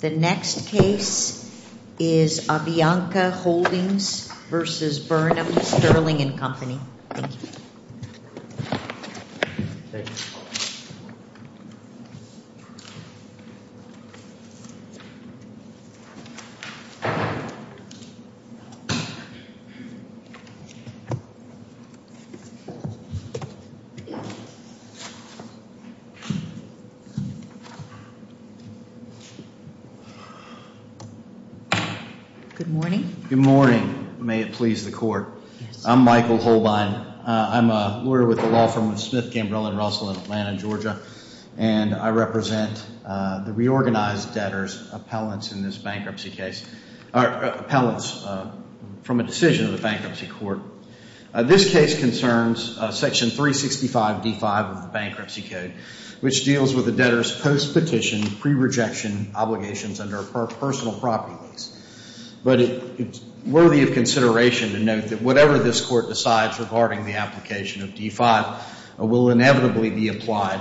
The next case is Avianca Holdings v. Burnham Sterling & Company. Good morning. Good morning. May it please the Court. I'm Michael Holbein. I'm a lawyer with the law firm of Smith, Gambrell & Russell in Atlanta, Georgia, and I represent the reorganized debtors' appellants in this bankruptcy case, appellants from a decision of the bankruptcy court. This case concerns Section 365 D.5 of the Bankruptcy Code, which deals with the debtors' post-petition, pre-rejection obligations under a personal property lease. But it's worthy of consideration to note that whatever this Court decides regarding the application of D.5 will inevitably be applied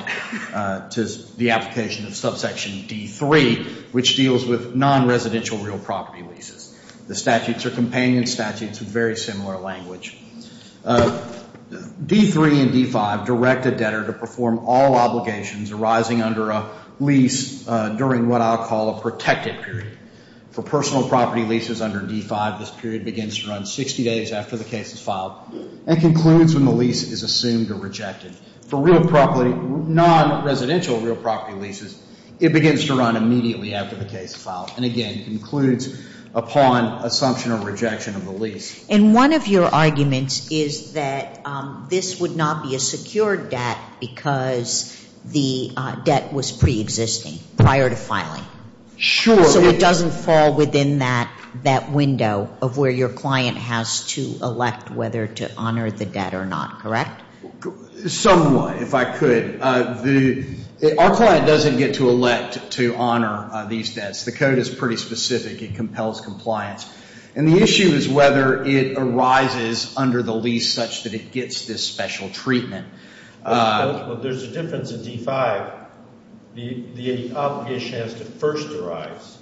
to the application of subsection D.3, which deals with non-residential real property leases. The statutes are companion statutes with very similar language. D.3 and D.5 direct a debtor to perform all obligations arising under a lease during what I'll call a protected period. For personal property leases under D.5, this period begins to run 60 days after the case is filed and concludes when the lease is assumed or rejected. For non-residential real property leases, it begins to run immediately after the case is filed and, again, concludes upon assumption or rejection of the lease. And one of your arguments is that this would not be a secured debt because the debt was preexisting prior to filing. Sure. So it doesn't fall within that window of where your client has to elect whether to honor the debt or not, correct? Somewhat, if I could. Our client doesn't get to elect to honor these debts. The code is pretty specific. It compels compliance. And the issue is whether it arises under the lease such that it gets this special treatment. Well, there's a difference in D.5. The obligation has to first arise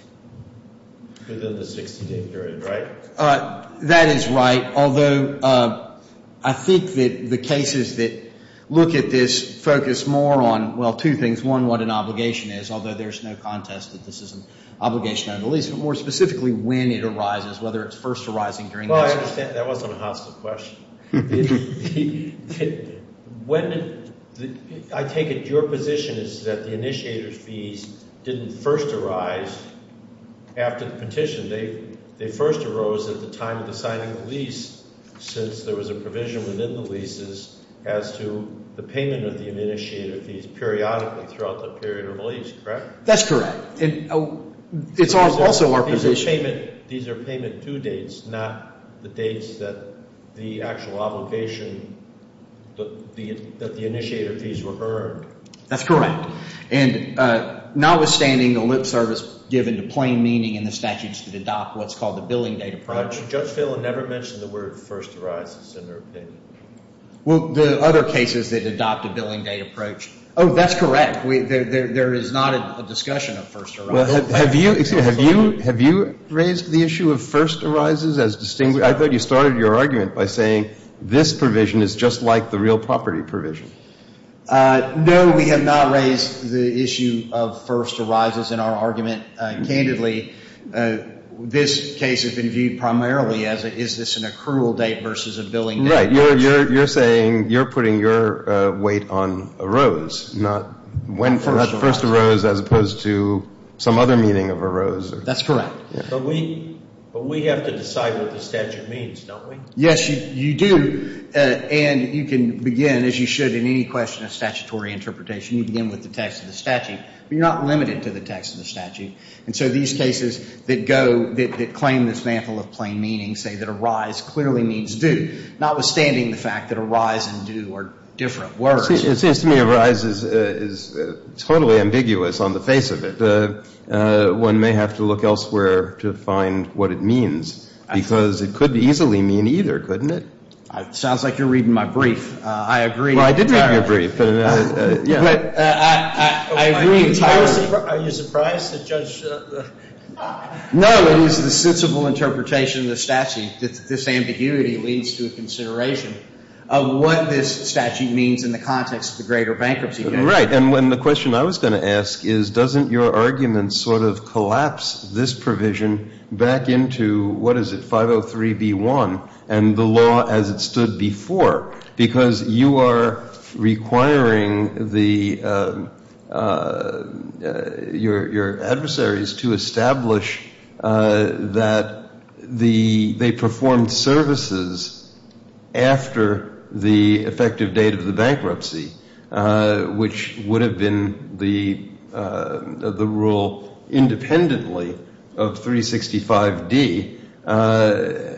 within the 60-day period, right? That is right. Although I think that the cases that look at this focus more on, well, two things. One, what an obligation is, although there's no contest that this is an obligation on the lease. But more specifically, when it arises, whether it's first arising during the lease. Well, I understand. That wasn't a hostile question. I take it your position is that the initiator fees didn't first arise after the petition. They first arose at the time of the signing of the lease since there was a provision within the leases as to the payment of the initiator fees periodically throughout the period of the lease, correct? That's correct. And it's also our position. These are payment due dates, not the dates that the actual obligation, that the initiator fees were earned. That's correct. And notwithstanding the lip service given to plain meaning and the statutes that adopt what's called the billing date approach. Judge Phelan never mentioned the word first arises in her opinion. Well, the other cases that adopt a billing date approach. Oh, that's correct. There is not a discussion of first arising. Have you raised the issue of first arises as distinguished? I thought you started your argument by saying this provision is just like the real property provision. No, we have not raised the issue of first arises in our argument. Candidly, this case has been viewed primarily as is this an accrual date versus a billing date approach. Right. You're saying you're putting your weight on arose, not when first arose as opposed to some other meaning of arose. That's correct. But we have to decide what the statute means, don't we? Yes, you do. And you can begin, as you should in any question of statutory interpretation, you begin with the text of the statute. But you're not limited to the text of the statute. And so these cases that go, that claim this mantle of plain meaning say that arise clearly means do, notwithstanding the fact that arise and do are different words. It seems to me arise is totally ambiguous on the face of it. One may have to look elsewhere to find what it means because it could easily mean either, couldn't it? Sounds like you're reading my brief. I agree entirely. Well, I did read your brief. I agree entirely. Are you surprised that Judge? No, it is the sensible interpretation of the statute, that this ambiguity leads to a consideration of what this statute means in the context of the greater bankruptcy case. Right, and the question I was going to ask is, doesn't your argument sort of collapse this provision back into, what is it, 503B1? And the law as it stood before. Because you are requiring the, your adversaries to establish that the, they performed services after the effective date of the bankruptcy, which would have been the rule independently of 365D.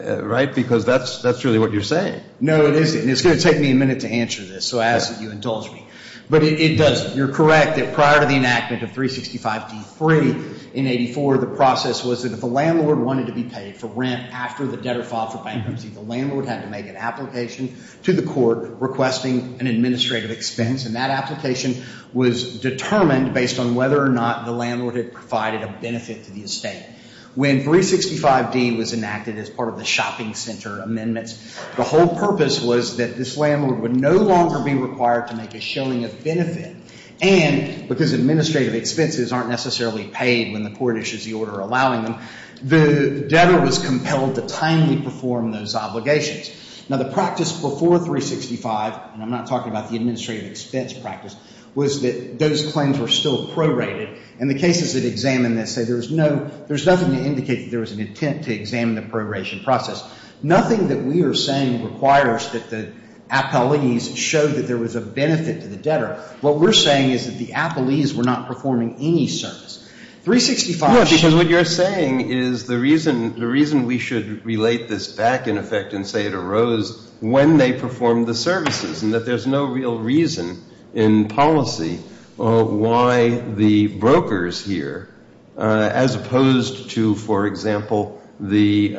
Right, because that's really what you're saying. No, it isn't. It's going to take me a minute to answer this, so I ask that you indulge me. But it doesn't. You're correct that prior to the enactment of 365D3 in 84, the process was that if a landlord wanted to be paid for rent after the debtor filed for bankruptcy, the landlord had to make an application to the court requesting an administrative expense. And that application was determined based on whether or not the landlord had provided a benefit to the estate. When 365D was enacted as part of the shopping center amendments, the whole purpose was that this landlord would no longer be required to make a shilling of benefit. And because administrative expenses aren't necessarily paid when the court issues the order allowing them, the debtor was compelled to timely perform those obligations. Now, the practice before 365, and I'm not talking about the administrative expense practice, was that those claims were still prorated. And the cases that examine this say there's no, there's nothing to indicate that there was an intent to examine the proration process. Nothing that we are saying requires that the appellees show that there was a benefit to the debtor. What we're saying is that the appellees were not performing any service. 365. No, because what you're saying is the reason we should relate this back, in effect, and say it arose when they performed the services, and that there's no real reason in policy why the brokers here, as opposed to, for example, the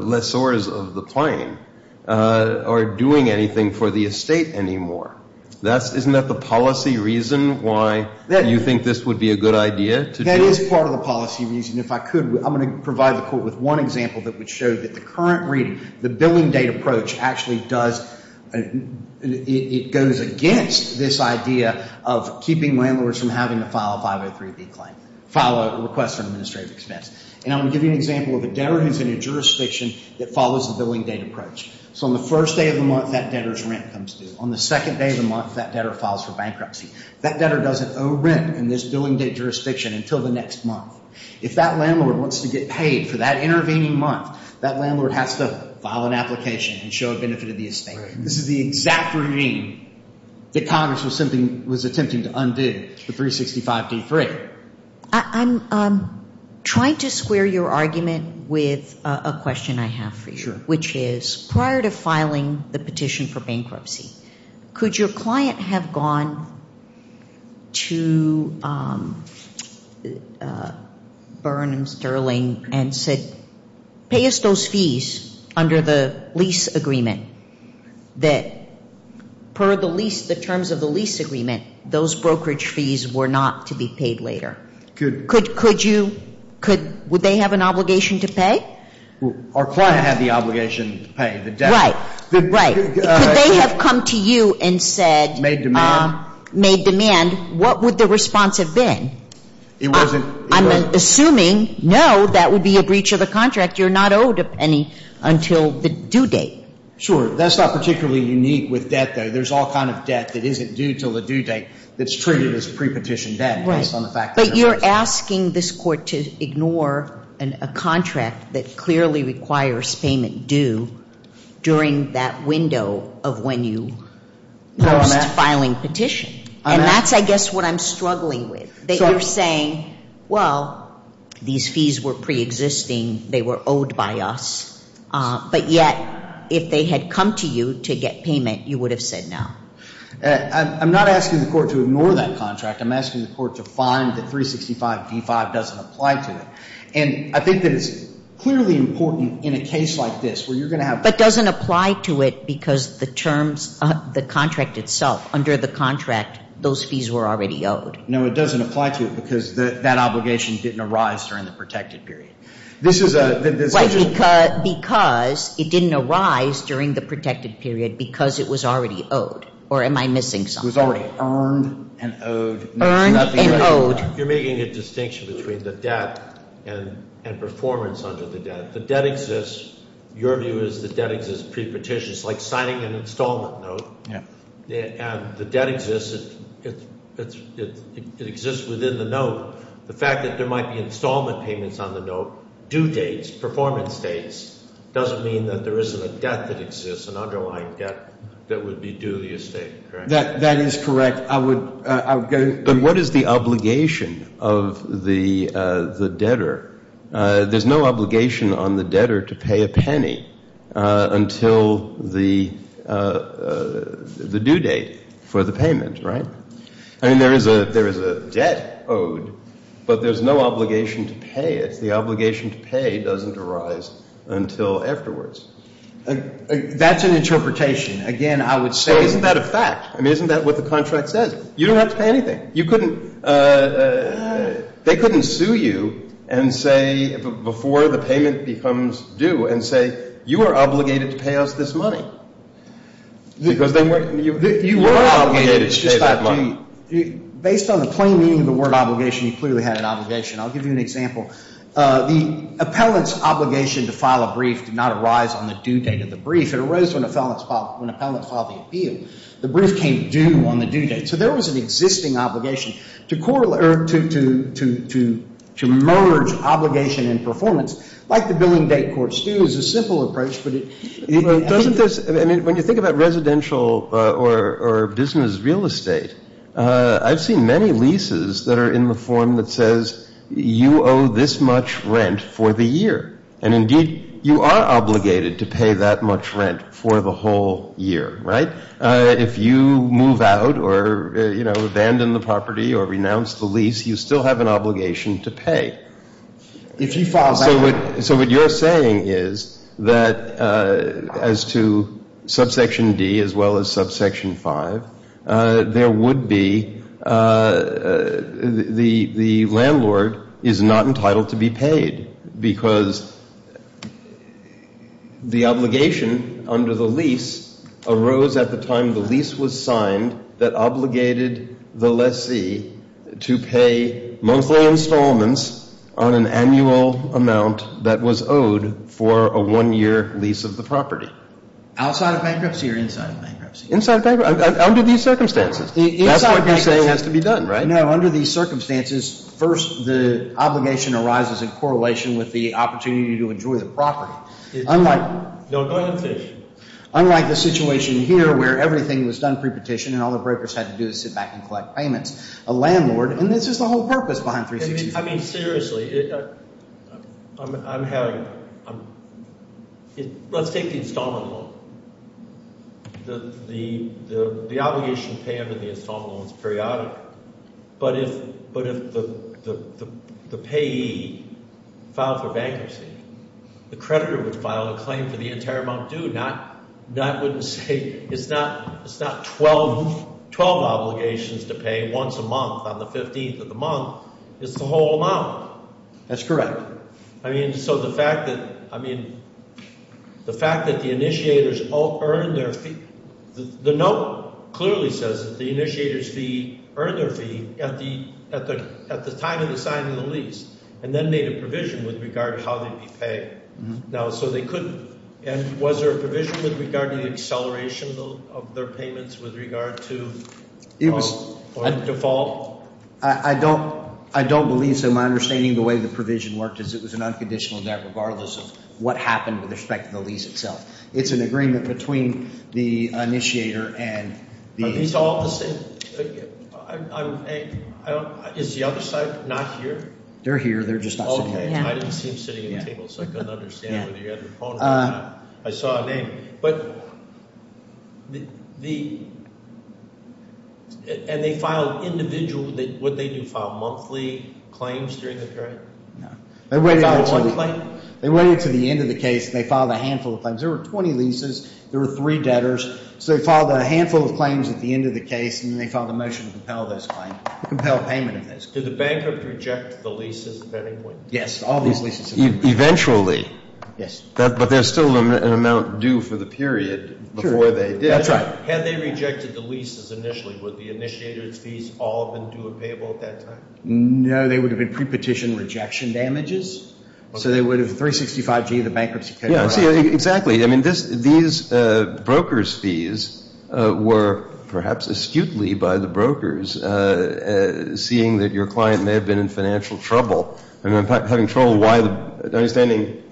lessors of the plane, are doing anything for the estate anymore. Isn't that the policy reason why you think this would be a good idea? That is part of the policy reason. If I could, I'm going to provide the court with one example that would show that the current reading, the billing date approach actually does, it goes against this idea of keeping landlords from having to file a 503B claim, file a request for administrative expense. And I'm going to give you an example of a debtor who's in a jurisdiction that follows the billing date approach. So on the first day of the month, that debtor's rent comes due. On the second day of the month, that debtor files for bankruptcy. That debtor doesn't owe rent in this billing date jurisdiction until the next month. If that landlord wants to get paid for that intervening month, that landlord has to file an application and show a benefit of the estate. This is the exact regime that Congress was attempting to undo, the 365D3. I'm trying to square your argument with a question I have for you. Sure. Which is, prior to filing the petition for bankruptcy, could your client have gone to Byrne and Sterling and said, pay us those fees under the lease agreement that per the terms of the lease agreement, those brokerage fees were not to be paid later? Could you? Would they have an obligation to pay? Our client had the obligation to pay the debt. Right. Could they have come to you and said. Made demand. Made demand. What would the response have been? It wasn't. I'm assuming, no, that would be a breach of a contract. You're not owed a penny until the due date. Sure. That's not particularly unique with debt, though. There's all kind of debt that isn't due until the due date that's treated as pre-petition debt based on the fact that there's no debt. But you're asking this court to ignore a contract that clearly requires payment due during that window of when you post filing petition. And that's, I guess, what I'm struggling with. They are saying, well, these fees were pre-existing. They were owed by us. But yet, if they had come to you to get payment, you would have said no. I'm not asking the court to ignore that contract. I'm asking the court to find that 365D5 doesn't apply to it. And I think that it's clearly important in a case like this where you're going to have. But doesn't apply to it because the terms, the contract itself, under the contract, those fees were already owed. No, it doesn't apply to it because that obligation didn't arise during the protected period. This is a. Because it didn't arise during the protected period because it was already owed. Or am I missing something? Because it was already earned and owed. Earned and owed. You're making a distinction between the debt and performance under the debt. The debt exists. Your view is the debt exists pre-petition. It's like signing an installment note. Yeah. And the debt exists. It exists within the note. The fact that there might be installment payments on the note, due dates, performance dates, doesn't mean that there isn't a debt that exists, an underlying debt that would be due the estate, correct? That is correct. I would go. But what is the obligation of the debtor? There's no obligation on the debtor to pay a penny until the due date for the payment, right? I mean, there is a debt owed, but there's no obligation to pay it. The obligation to pay doesn't arise until afterwards. That's an interpretation. Again, I would say. Isn't that a fact? I mean, isn't that what the contract says? You don't have to pay anything. You couldn't. They couldn't sue you and say, before the payment becomes due, and say, you are obligated to pay us this money. Because then you were obligated to pay that money. Based on the plain meaning of the word obligation, you clearly had an obligation. I'll give you an example. The appellant's obligation to file a brief did not arise on the due date of the brief. It arose when the appellant filed the appeal. The brief came due on the due date. So there was an existing obligation to correlate or to merge obligation and performance, like the billing date courts do, is a simple approach, but it doesn't. I mean, when you think about residential or business real estate, I've seen many leases that are in the form that says you owe this much rent for the year. And, indeed, you are obligated to pay that much rent for the whole year, right? If you move out or, you know, abandon the property or renounce the lease, you still have an obligation to pay. So what you're saying is that as to subsection D as well as subsection 5, there would be the landlord is not entitled to be paid because the obligation under the lease arose at the time the lease was signed that obligated the lessee to pay monthly installments on an annual amount that was owed for a one-year lease of the property. Outside of bankruptcy or inside of bankruptcy? Inside of bankruptcy, under these circumstances. That's why you say it has to be done, right? No, under these circumstances, first the obligation arises in correlation with the opportunity to enjoy the property. Unlike the situation here where everything was done pre-petition and all the brokers had to do was sit back and collect payments, a landlord, and this is the whole purpose behind 360. I mean, seriously, I'm having – let's take the installment loan. The obligation to pay under the installment loan is periodic, but if the payee filed for bankruptcy, the creditor would file a claim for the entire amount due, not – wouldn't say – it's not 12 obligations to pay once a month on the 15th of the month. It's the whole amount. That's correct. I mean, so the fact that – I mean, the fact that the initiators earned their – the note clearly says that the initiators earned their fee at the time of the signing of the lease and then made a provision with regard to how they'd be paid. Now, so they couldn't – and was there a provision with regard to the acceleration of their payments with regard to default? I don't believe so. My understanding of the way the provision worked is it was an unconditional debt regardless of what happened with respect to the lease itself. It's an agreement between the initiator and the – Are these all the same – is the other side not here? They're here. They're just not sitting here. Oh, okay. I didn't see them sitting at the table, so I couldn't understand whether you had your phone on or not. I saw a name. But the – and they filed individual – what did they do, file monthly claims during the period? No. They filed one claim? They waited until the end of the case and they filed a handful of claims. There were 20 leases. There were three debtors. So they filed a handful of claims at the end of the case, and then they filed a motion to compel those claims, compel payment of those. Did the banker project the leases at any point? Yes, all these leases. Eventually. Yes. But there's still an amount due for the period before they did. That's right. Had they rejected the leases initially, would the initiator's fees all have been due and payable at that time? No. They would have been pre-petition rejection damages. So they would have – 365G, the bankruptcy – Exactly. I mean, these broker's fees were perhaps askewtly by the brokers, seeing that your client may have been in financial trouble. I mean, having trouble understanding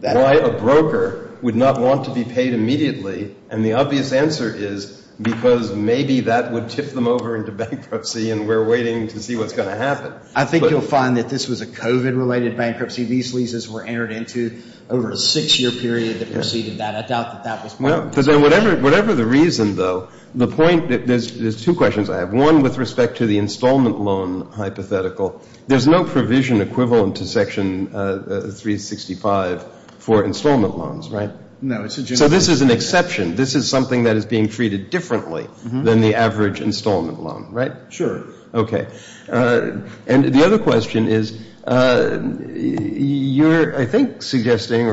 why a broker would not want to be paid immediately. And the obvious answer is because maybe that would tip them over into bankruptcy, and we're waiting to see what's going to happen. I think you'll find that this was a COVID-related bankruptcy. These leases were entered into over a six-year period that preceded that. I doubt that that was – No, because whatever the reason, though, the point – there's two questions I have. One with respect to the installment loan hypothetical. There's no provision equivalent to Section 365 for installment loans, right? No. So this is an exception. This is something that is being treated differently than the average installment loan, right? Sure. Okay. And the other question is, you're, I think, suggesting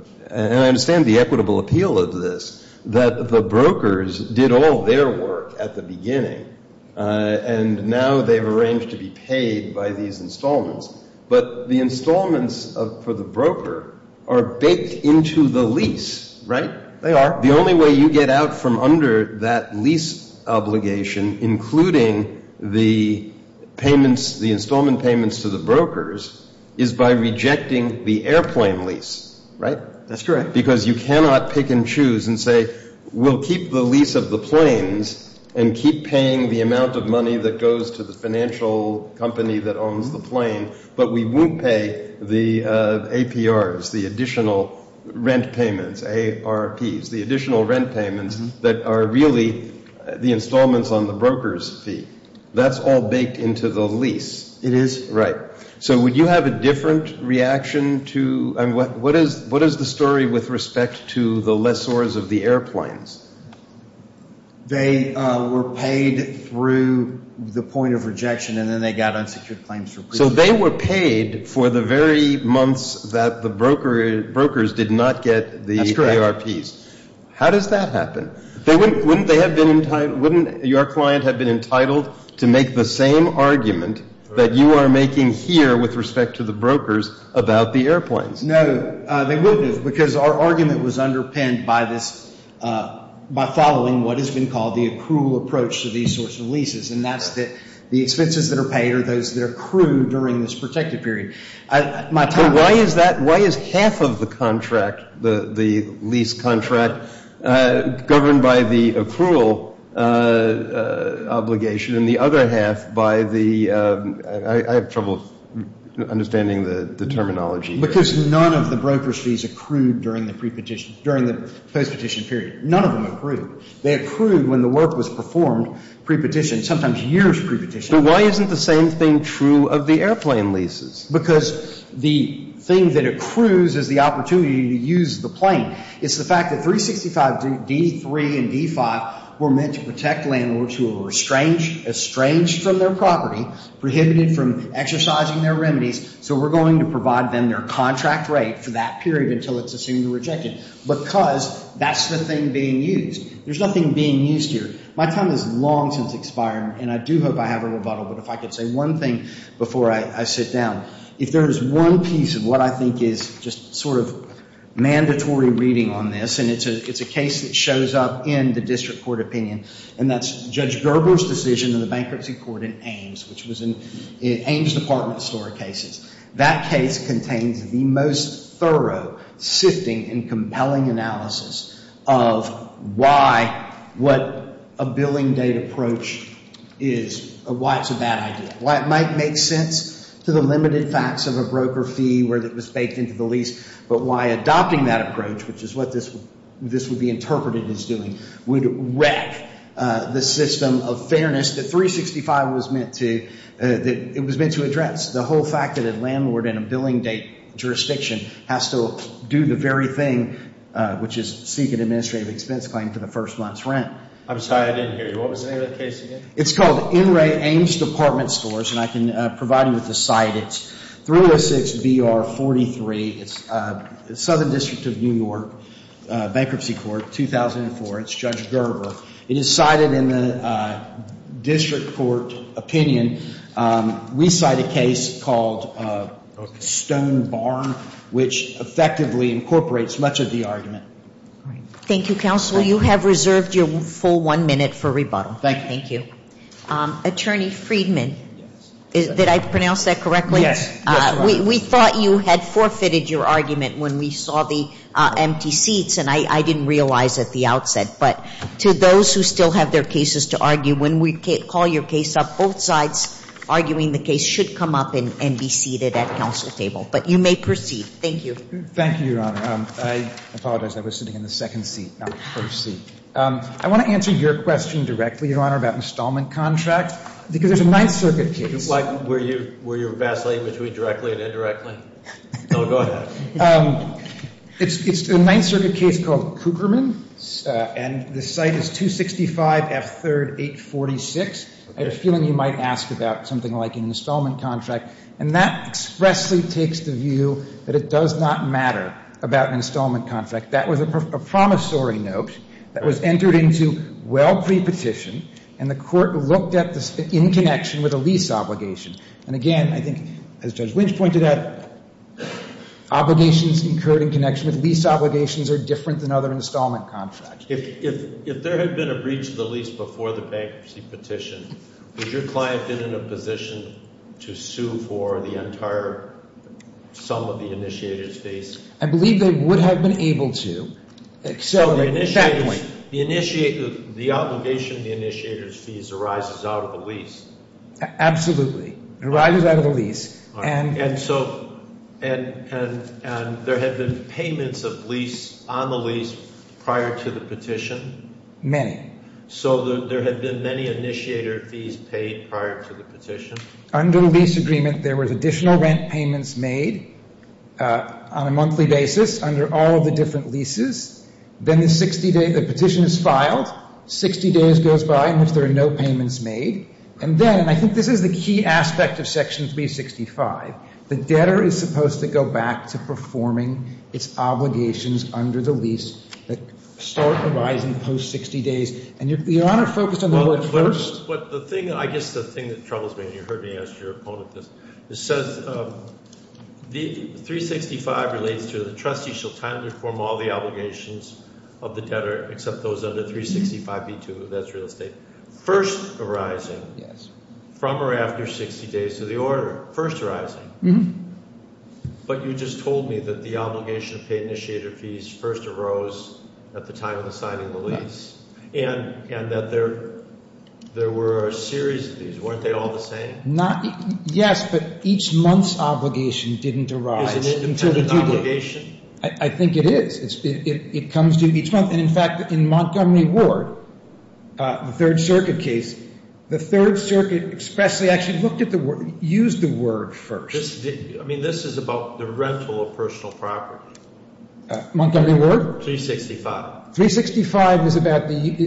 – and I understand the equitable appeal of this – that the brokers did all their work at the beginning, and now they've arranged to be paid by these installments. But the installments for the broker are baked into the lease, right? They are. The only way you get out from under that lease obligation, including the installments payments to the brokers, is by rejecting the airplane lease, right? That's correct. Because you cannot pick and choose and say, we'll keep the lease of the planes and keep paying the amount of money that goes to the financial company that owns the plane, but we won't pay the APRs, the additional rent payments, ARPs, the additional rent payments that are really the installments on the broker's fee. That's all baked into the lease. It is. Right. So would you have a different reaction to – I mean, what is the story with respect to the lessors of the airplanes? They were paid through the point of rejection, and then they got unsecured claims for previous. So they were paid for the very months that the brokers did not get the ARPs. How does that happen? Wouldn't they have been – wouldn't your client have been entitled to make the same argument that you are making here with respect to the brokers about the airplanes? No, they wouldn't have, because our argument was underpinned by this – by following what has been called the accrual approach to these sorts of leases, and that's that the expenses that are paid are those that are accrued during this protected period. So why is that – why is half of the contract, the lease contract, governed by the accrual obligation and the other half by the – I have trouble understanding the terminology. Because none of the broker's fees accrued during the pre-petition – during the post-petition period. None of them accrued. They accrued when the work was performed pre-petition, sometimes years pre-petition. But why isn't the same thing true of the airplane leases? Because the thing that accrues is the opportunity to use the plane. It's the fact that 365 D3 and D5 were meant to protect landlords who were estranged from their property, prohibited from exercising their remedies, so we're going to provide them their contract rate for that period until it's assumed to be rejected, because that's the thing being used. There's nothing being used here. My time has long since expired, and I do hope I have a rebuttal, but if I could say one thing before I sit down. If there is one piece of what I think is just sort of mandatory reading on this, and it's a case that shows up in the district court opinion, and that's Judge Gerber's decision in the bankruptcy court in Ames, which was in Ames Department of Historic Cases. That case contains the most thorough, sifting, and compelling analysis of why what a billing date approach is, why it's a bad idea, why it might make sense to the limited facts of a broker fee where it was baked into the lease, but why adopting that approach, which is what this would be interpreted as doing, would wreck the system of fairness that 365 was meant to address. That's the whole fact that a landlord in a billing date jurisdiction has to do the very thing, which is seek an administrative expense claim for the first month's rent. I'm sorry, I didn't hear you. What was the name of the case again? It's called N. Ray Ames Department Stores, and I can provide you with the cite. It's 306BR43. It's Southern District of New York Bankruptcy Court, 2004. It's Judge Gerber. It is cited in the district court opinion. We cite a case called Stone Barn, which effectively incorporates much of the argument. Thank you, counsel. You have reserved your full one minute for rebuttal. Thank you. Thank you. Attorney Friedman, did I pronounce that correctly? Yes. We thought you had forfeited your argument when we saw the empty seats, and I didn't realize at the outset. But to those who still have their cases to argue, when we call your case up, both sides arguing the case should come up and be seated at counsel's table. But you may proceed. Thank you. Thank you, Your Honor. I apologize. I was sitting in the second seat, not the first seat. I want to answer your question directly, Your Honor, about installment contracts, because there's a Ninth Circuit case. Were you vacillating between directly and indirectly? No, go ahead. It's a Ninth Circuit case called Cooperman, and the site is 265 F. 3rd, 846. I had a feeling you might ask about something like an installment contract, and that expressly takes the view that it does not matter about an installment contract. That was a promissory note that was entered into well pre-petition, and the court looked at this in connection with a lease obligation. And, again, I think, as Judge Lynch pointed out, obligations incurred in connection with lease obligations are different than other installment contracts. If there had been a breach of the lease before the bankruptcy petition, would your client have been in a position to sue for the entire sum of the initiator's fees? I believe they would have been able to. The obligation of the initiator's fees arises out of the lease. Absolutely. It arises out of the lease. And so there had been payments on the lease prior to the petition? Many. So there had been many initiator fees paid prior to the petition? Under the lease agreement, there was additional rent payments made on a monthly basis under all of the different leases. Then the petition is filed, 60 days goes by in which there are no payments made, and then, and I think this is the key aspect of Section 365, the debtor is supposed to go back to performing its obligations under the lease that start arising post 60 days. And your Honor focused on the word first. Well, but the thing, I guess the thing that troubles me, and you heard me ask your opponent this, it says 365 relates to the trustee shall timely perform all the obligations of the debtor except those under 365b2, that's real estate. First arising from or after 60 days of the order, first arising. But you just told me that the obligation of paid initiator fees first arose at the time of the signing of the lease, and that there were a series of these. Weren't they all the same? Yes, but each month's obligation didn't arise until the due date. Is it an independent obligation? I think it is. It comes due each month. And, in fact, in Montgomery Ward, the Third Circuit case, the Third Circuit expressly actually looked at the word, used the word first. I mean, this is about the rental of personal property. Montgomery Ward? 365. 365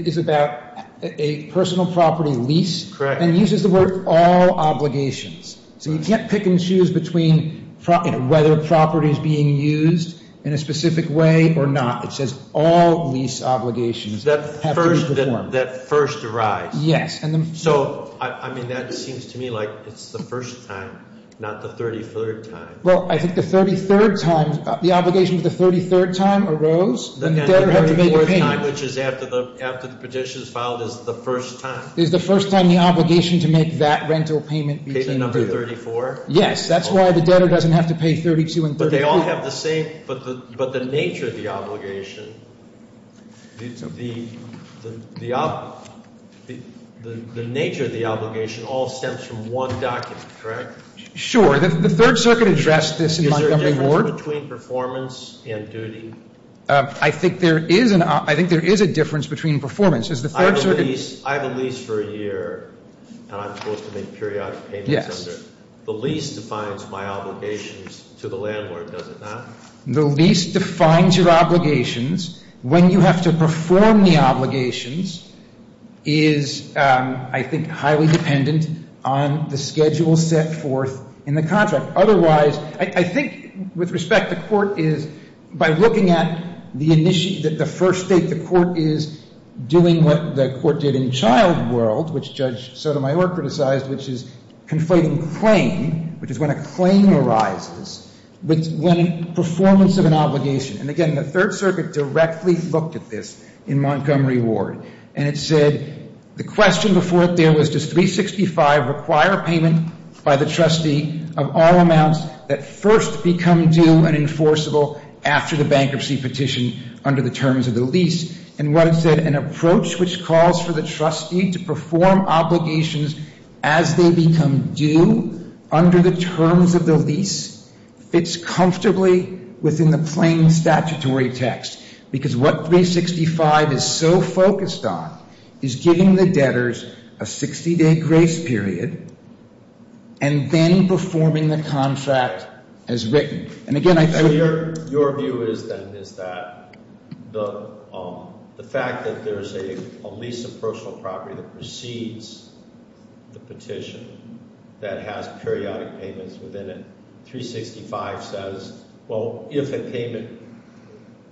is about a personal property lease. Correct. And uses the word all obligations. So you can't pick and choose between whether a property is being used in a specific way or not. It says all lease obligations have to be performed. That first arise. Yes. So, I mean, that seems to me like it's the first time, not the 33rd time. Well, I think the 33rd time, the obligation of the 33rd time arose, and the debtor had to make a payment. Which is after the petition is filed is the first time. Is the first time the obligation to make that rental payment. Is it number 34? Yes. That's why the debtor doesn't have to pay 32 and 33. But they all have the same. But the nature of the obligation, the nature of the obligation all stems from one document, correct? Sure. The Third Circuit addressed this in Montgomery Ward. Is there a difference between performance and duty? I think there is a difference between performance. I have a lease for a year, and I'm supposed to make periodic payments under it. Yes. The lease defines my obligations to the landlord, does it not? The lease defines your obligations. When you have to perform the obligations is, I think, highly dependent on the schedule set forth in the contract. I think, with respect, the court is, by looking at the first date, the court is doing what the court did in child world, which Judge Sotomayor criticized, which is conflating claim, which is when a claim arises, with performance of an obligation. And again, the Third Circuit directly looked at this in Montgomery Ward. And it said, the question before it there was, does 365 require a payment by the trustee of all amounts that first become due and enforceable after the bankruptcy petition under the terms of the lease? And what it said, an approach which calls for the trustee to perform obligations as they become due under the terms of the lease fits comfortably within the plain statutory text. Because what 365 is so focused on is giving the debtors a 60-day grace period and then performing the contract as written. And again, I think- So your view is then, is that the fact that there's a lease of personal property that precedes the petition that has periodic payments within it, 365 says, well, if a payment,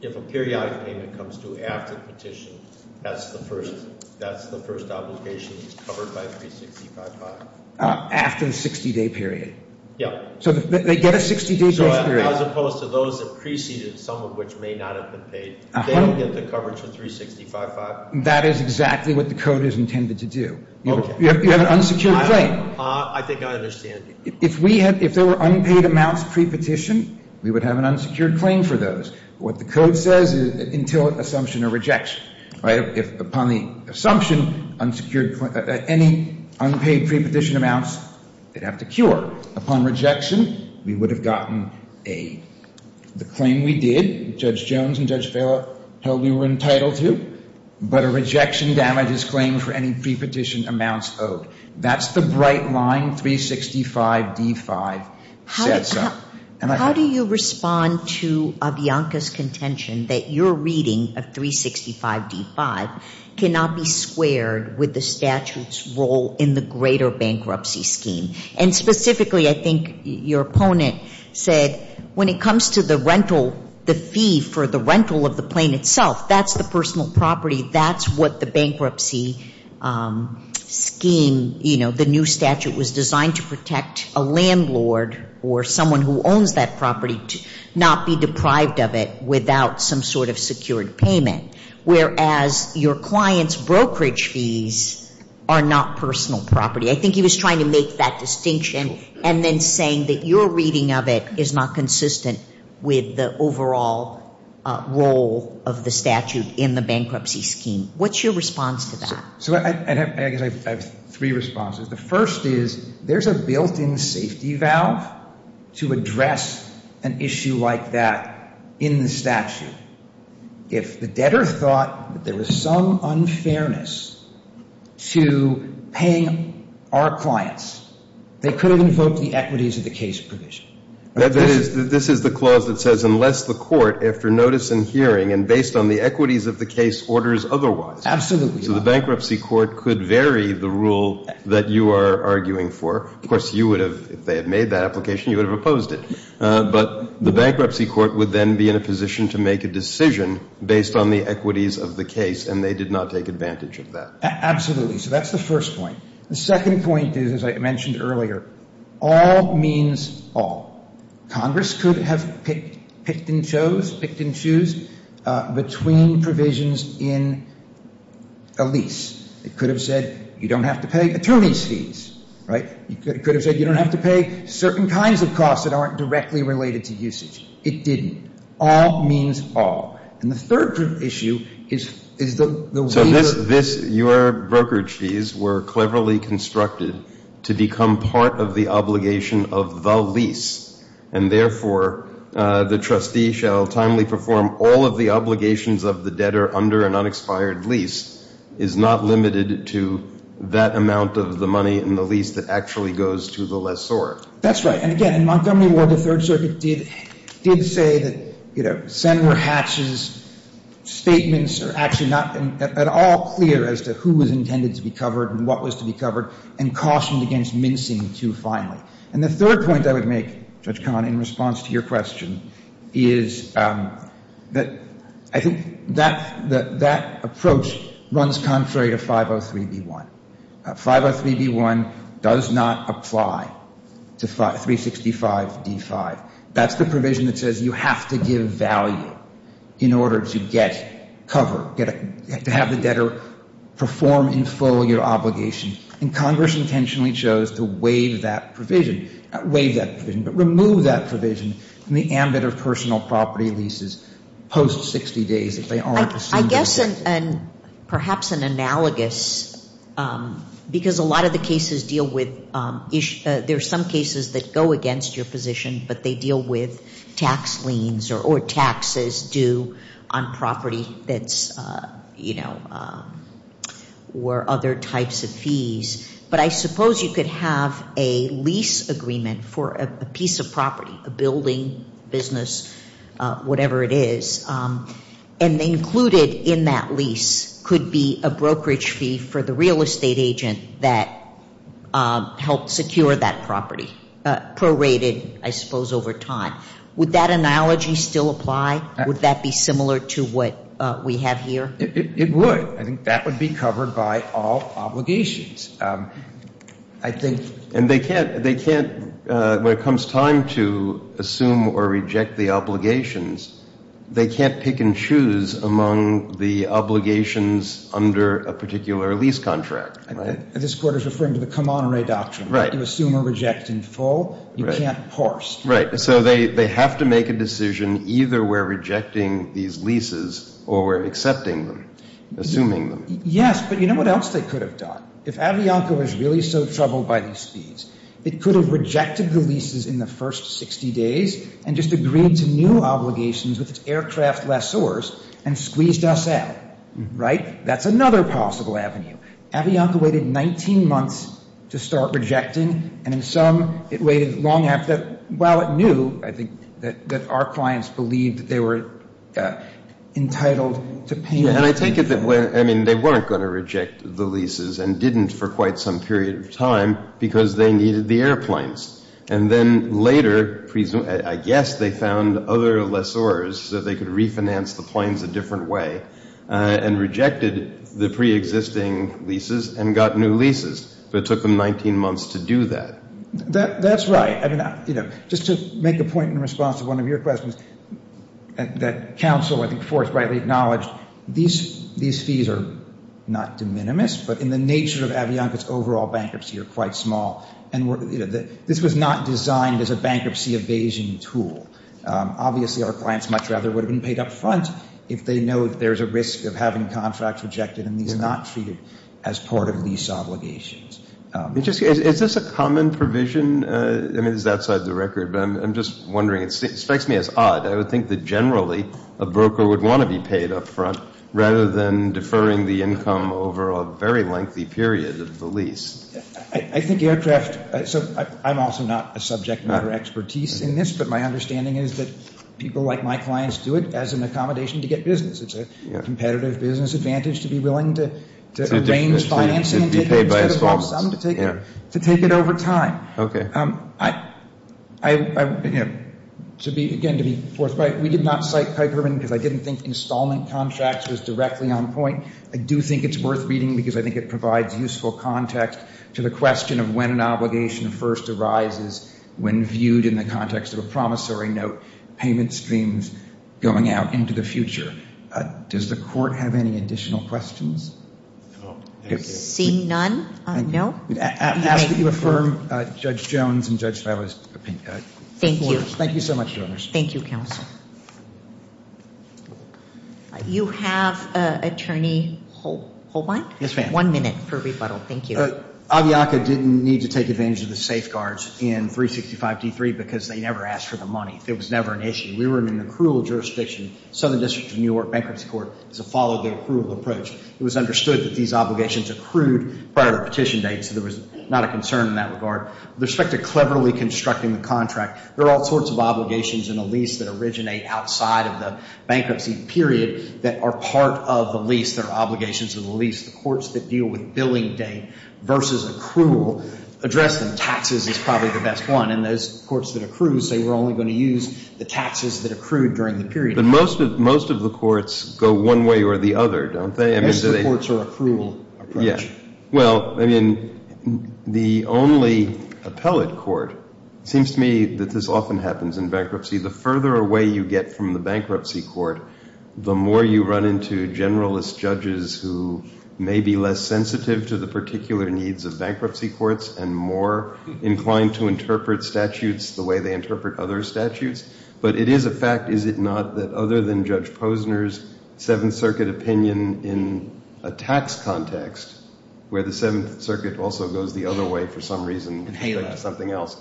if a periodic payment comes due after the petition, that's the first obligation that's covered by 365-5? After the 60-day period. Yeah. So they get a 60-day grace period. So as opposed to those that preceded, some of which may not have been paid, they don't get the coverage of 365-5? That is exactly what the code is intended to do. Okay. You have an unsecured claim. I think I understand. If we had, if there were unpaid amounts pre-petition, we would have an unsecured claim for those. What the code says is until assumption or rejection. Right? If upon the assumption, unsecured, any unpaid pre-petition amounts, they'd have to cure. Upon rejection, we would have gotten a, the claim we did, Judge Jones and Judge Vela held we were entitled to, but a rejection damages claim for any pre-petition amounts owed. That's the bright line 365-D-5 sets up. How do you respond to Avianca's contention that your reading of 365-D-5 cannot be squared with the statute's role in the greater bankruptcy scheme? And specifically, I think your opponent said when it comes to the rental, the fee for the rental of the plane itself, that's the personal property. That's what the bankruptcy scheme, you know, the new statute was designed to protect a landlord or someone who owns that property to not be deprived of it without some sort of secured payment. Whereas your client's brokerage fees are not personal property. I think he was trying to make that distinction and then saying that your reading of it is not consistent with the overall role of the statute in the bankruptcy scheme. What's your response to that? So I guess I have three responses. The first is there's a built-in safety valve to address an issue like that in the statute. If the debtor thought that there was some unfairness to paying our clients, they could have invoked the equities of the case provision. This is the clause that says unless the court, after notice and hearing and based on the equities of the case, orders otherwise. Absolutely. So the bankruptcy court could vary the rule that you are arguing for. Of course, you would have, if they had made that application, you would have opposed it. But the bankruptcy court would then be in a position to make a decision based on the equities of the case, and they did not take advantage of that. Absolutely. So that's the first point. The second point is, as I mentioned earlier, all means all. Congress could have picked and chose between provisions in a lease. It could have said you don't have to pay attorney's fees. It could have said you don't have to pay certain kinds of costs that aren't directly related to usage. It didn't. All means all. And the third issue is the waiver. So this, your brokerage fees were cleverly constructed to become part of the obligation of the lease, and therefore the trustee shall timely perform all of the obligations of the debtor under an unexpired lease is not limited to that amount of the money in the lease that actually goes to the lessor. That's right. And, again, in Montgomery Ward, the Third Circuit did say that, you know, Sen. Hatch's statements are actually not at all clear as to who was intended to be covered and what was to be covered and cautioned against mincing too finely. And the third point I would make, Judge Cahn, in response to your question, is that I think that approach runs contrary to 503B1. 503B1 does not apply to 365D5. That's the provision that says you have to give value in order to get cover, to have the debtor perform in full your obligation. And Congress intentionally chose to waive that provision, not waive that provision, but remove that provision from the ambit of personal property leases post 60 days if they aren't assumed. I guess, and perhaps an analogous, because a lot of the cases deal with issues, there are some cases that go against your position, but they deal with tax liens or taxes due on property that's, you know, or other types of fees. But I suppose you could have a lease agreement for a piece of property, a building, business, whatever it is, and included in that lease could be a brokerage fee for the real estate agent that helped secure that property, prorated, I suppose, over time. Would that analogy still apply? Would that be similar to what we have here? It would. I think that would be covered by all obligations. And they can't, when it comes time to assume or reject the obligations, they can't pick and choose among the obligations under a particular lease contract, right? This Court is referring to the come-on-array doctrine. Right. You assume or reject in full. Right. You can't parse. Right. So they have to make a decision either we're rejecting these leases or we're accepting them, assuming them. Yes, but you know what else they could have done? If Avianca was really so troubled by these fees, it could have rejected the leases in the first 60 days and just agreed to new obligations with its aircraft lessors and squeezed us out, right? That's another possible avenue. Avianca waited 19 months to start rejecting, and in some it waited long after that while it knew, I think, that our clients believed that they were entitled to pay. And I take it that, I mean, they weren't going to reject the leases and didn't for quite some period of time because they needed the airplanes. And then later, I guess they found other lessors so they could refinance the planes a different way and rejected the preexisting leases and got new leases. But it took them 19 months to do that. That's right. I mean, you know, just to make a point in response to one of your questions, that counsel, I think Forrest, rightly acknowledged these fees are not de minimis, but in the nature of Avianca's overall bankruptcy are quite small. And this was not designed as a bankruptcy evasion tool. Obviously, our clients much rather would have been paid up front if they know that there's a risk of having contracts rejected and these not treated as part of lease obligations. Is this a common provision? I mean, this is outside the record, but I'm just wondering. It strikes me as odd. I would think that generally a broker would want to be paid up front rather than deferring the income over a very lengthy period of the lease. I think aircraft – so I'm also not a subject matter expertise in this, but my understanding is that people like my clients do it as an accommodation to get business. It's a competitive business advantage to be willing to arrange financing instead of have some to take it over time. Okay. Again, to be forthright, we did not cite Kuykerman because I didn't think installment contracts was directly on point. I do think it's worth reading because I think it provides useful context to the question of when an obligation first arises when viewed in the context of a promissory note, payment schemes going out into the future. Does the Court have any additional questions? Seeing none, no. I ask that you affirm Judge Jones and Judge Favre's opinion. Thank you. Thank you so much, Your Honors. Thank you, Counsel. You have Attorney Holbein? Yes, ma'am. One minute for rebuttal. Thank you. Aviaca didn't need to take advantage of the safeguards in 365d3 because they never asked for the money. It was never an issue. We were in an accrual jurisdiction. Southern District of New York Bankruptcy Court has followed the accrual approach. It was understood that these obligations accrued prior to the petition date, so there was not a concern in that regard. With respect to cleverly constructing the contract, there are all sorts of obligations in a lease that originate outside of the bankruptcy period that are part of the lease. There are obligations to the lease. The courts that deal with billing date versus accrual address them. Taxes is probably the best one, and those courts that accrue say we're only going to use the taxes that accrued during the period. But most of the courts go one way or the other, don't they? Most of the courts are accrual approach. Well, I mean, the only appellate court, it seems to me that this often happens in bankruptcy. The further away you get from the bankruptcy court, the more you run into generalist judges who may be less sensitive to the particular needs of bankruptcy courts and more inclined to interpret statutes the way they interpret other statutes. But it is a fact, is it not, that other than Judge Posner's Seventh Circuit opinion in a tax context, where the Seventh Circuit also goes the other way for some reason, something else,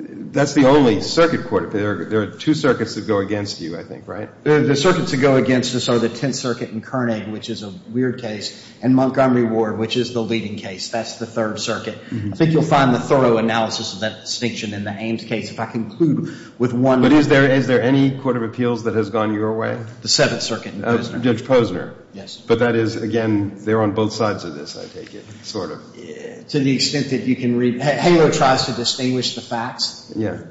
that's the only circuit court. There are two circuits that go against you, I think, right? The circuits that go against us are the Tenth Circuit in Koenig, which is a weird case, and Montgomery Ward, which is the leading case. That's the Third Circuit. I think you'll find the thorough analysis of that distinction in the Ames case. If I conclude with one of the... But is there any court of appeals that has gone your way? The Seventh Circuit in Posner. Judge Posner. Yes. But that is, again, they're on both sides of this, I take it, sort of. To the extent that you can read. HALO tries to distinguish the facts. Yeah.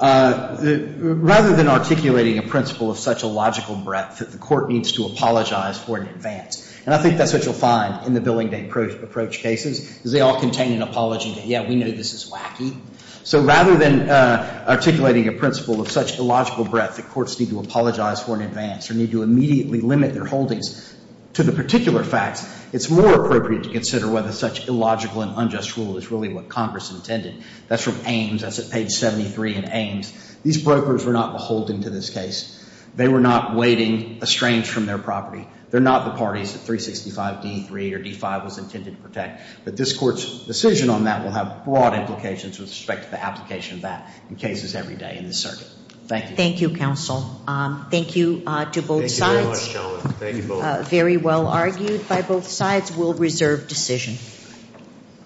Rather than articulating a principle of such a logical breadth that the court needs to apologize for in advance, and I think that's what you'll find in the billing date approach cases, is they all contain an apology that, yeah, we know this is wacky. So rather than articulating a principle of such illogical breadth that courts need to apologize for in advance or need to immediately limit their holdings to the particular facts, it's more appropriate to consider whether such illogical and unjust rule is really what Congress intended. That's from Ames. That's at page 73 in Ames. These brokers were not beholden to this case. They were not waiting estranged from their property. They're not the parties that 365 D.3 or D.5 was intended to protect. But this Court's decision on that will have broad implications with respect to the application of that in cases every day in the circuit. Thank you. Thank you, counsel. Thank you to both sides. Thank you very much, gentlemen. Thank you both. Very well argued by both sides. We'll reserve decision.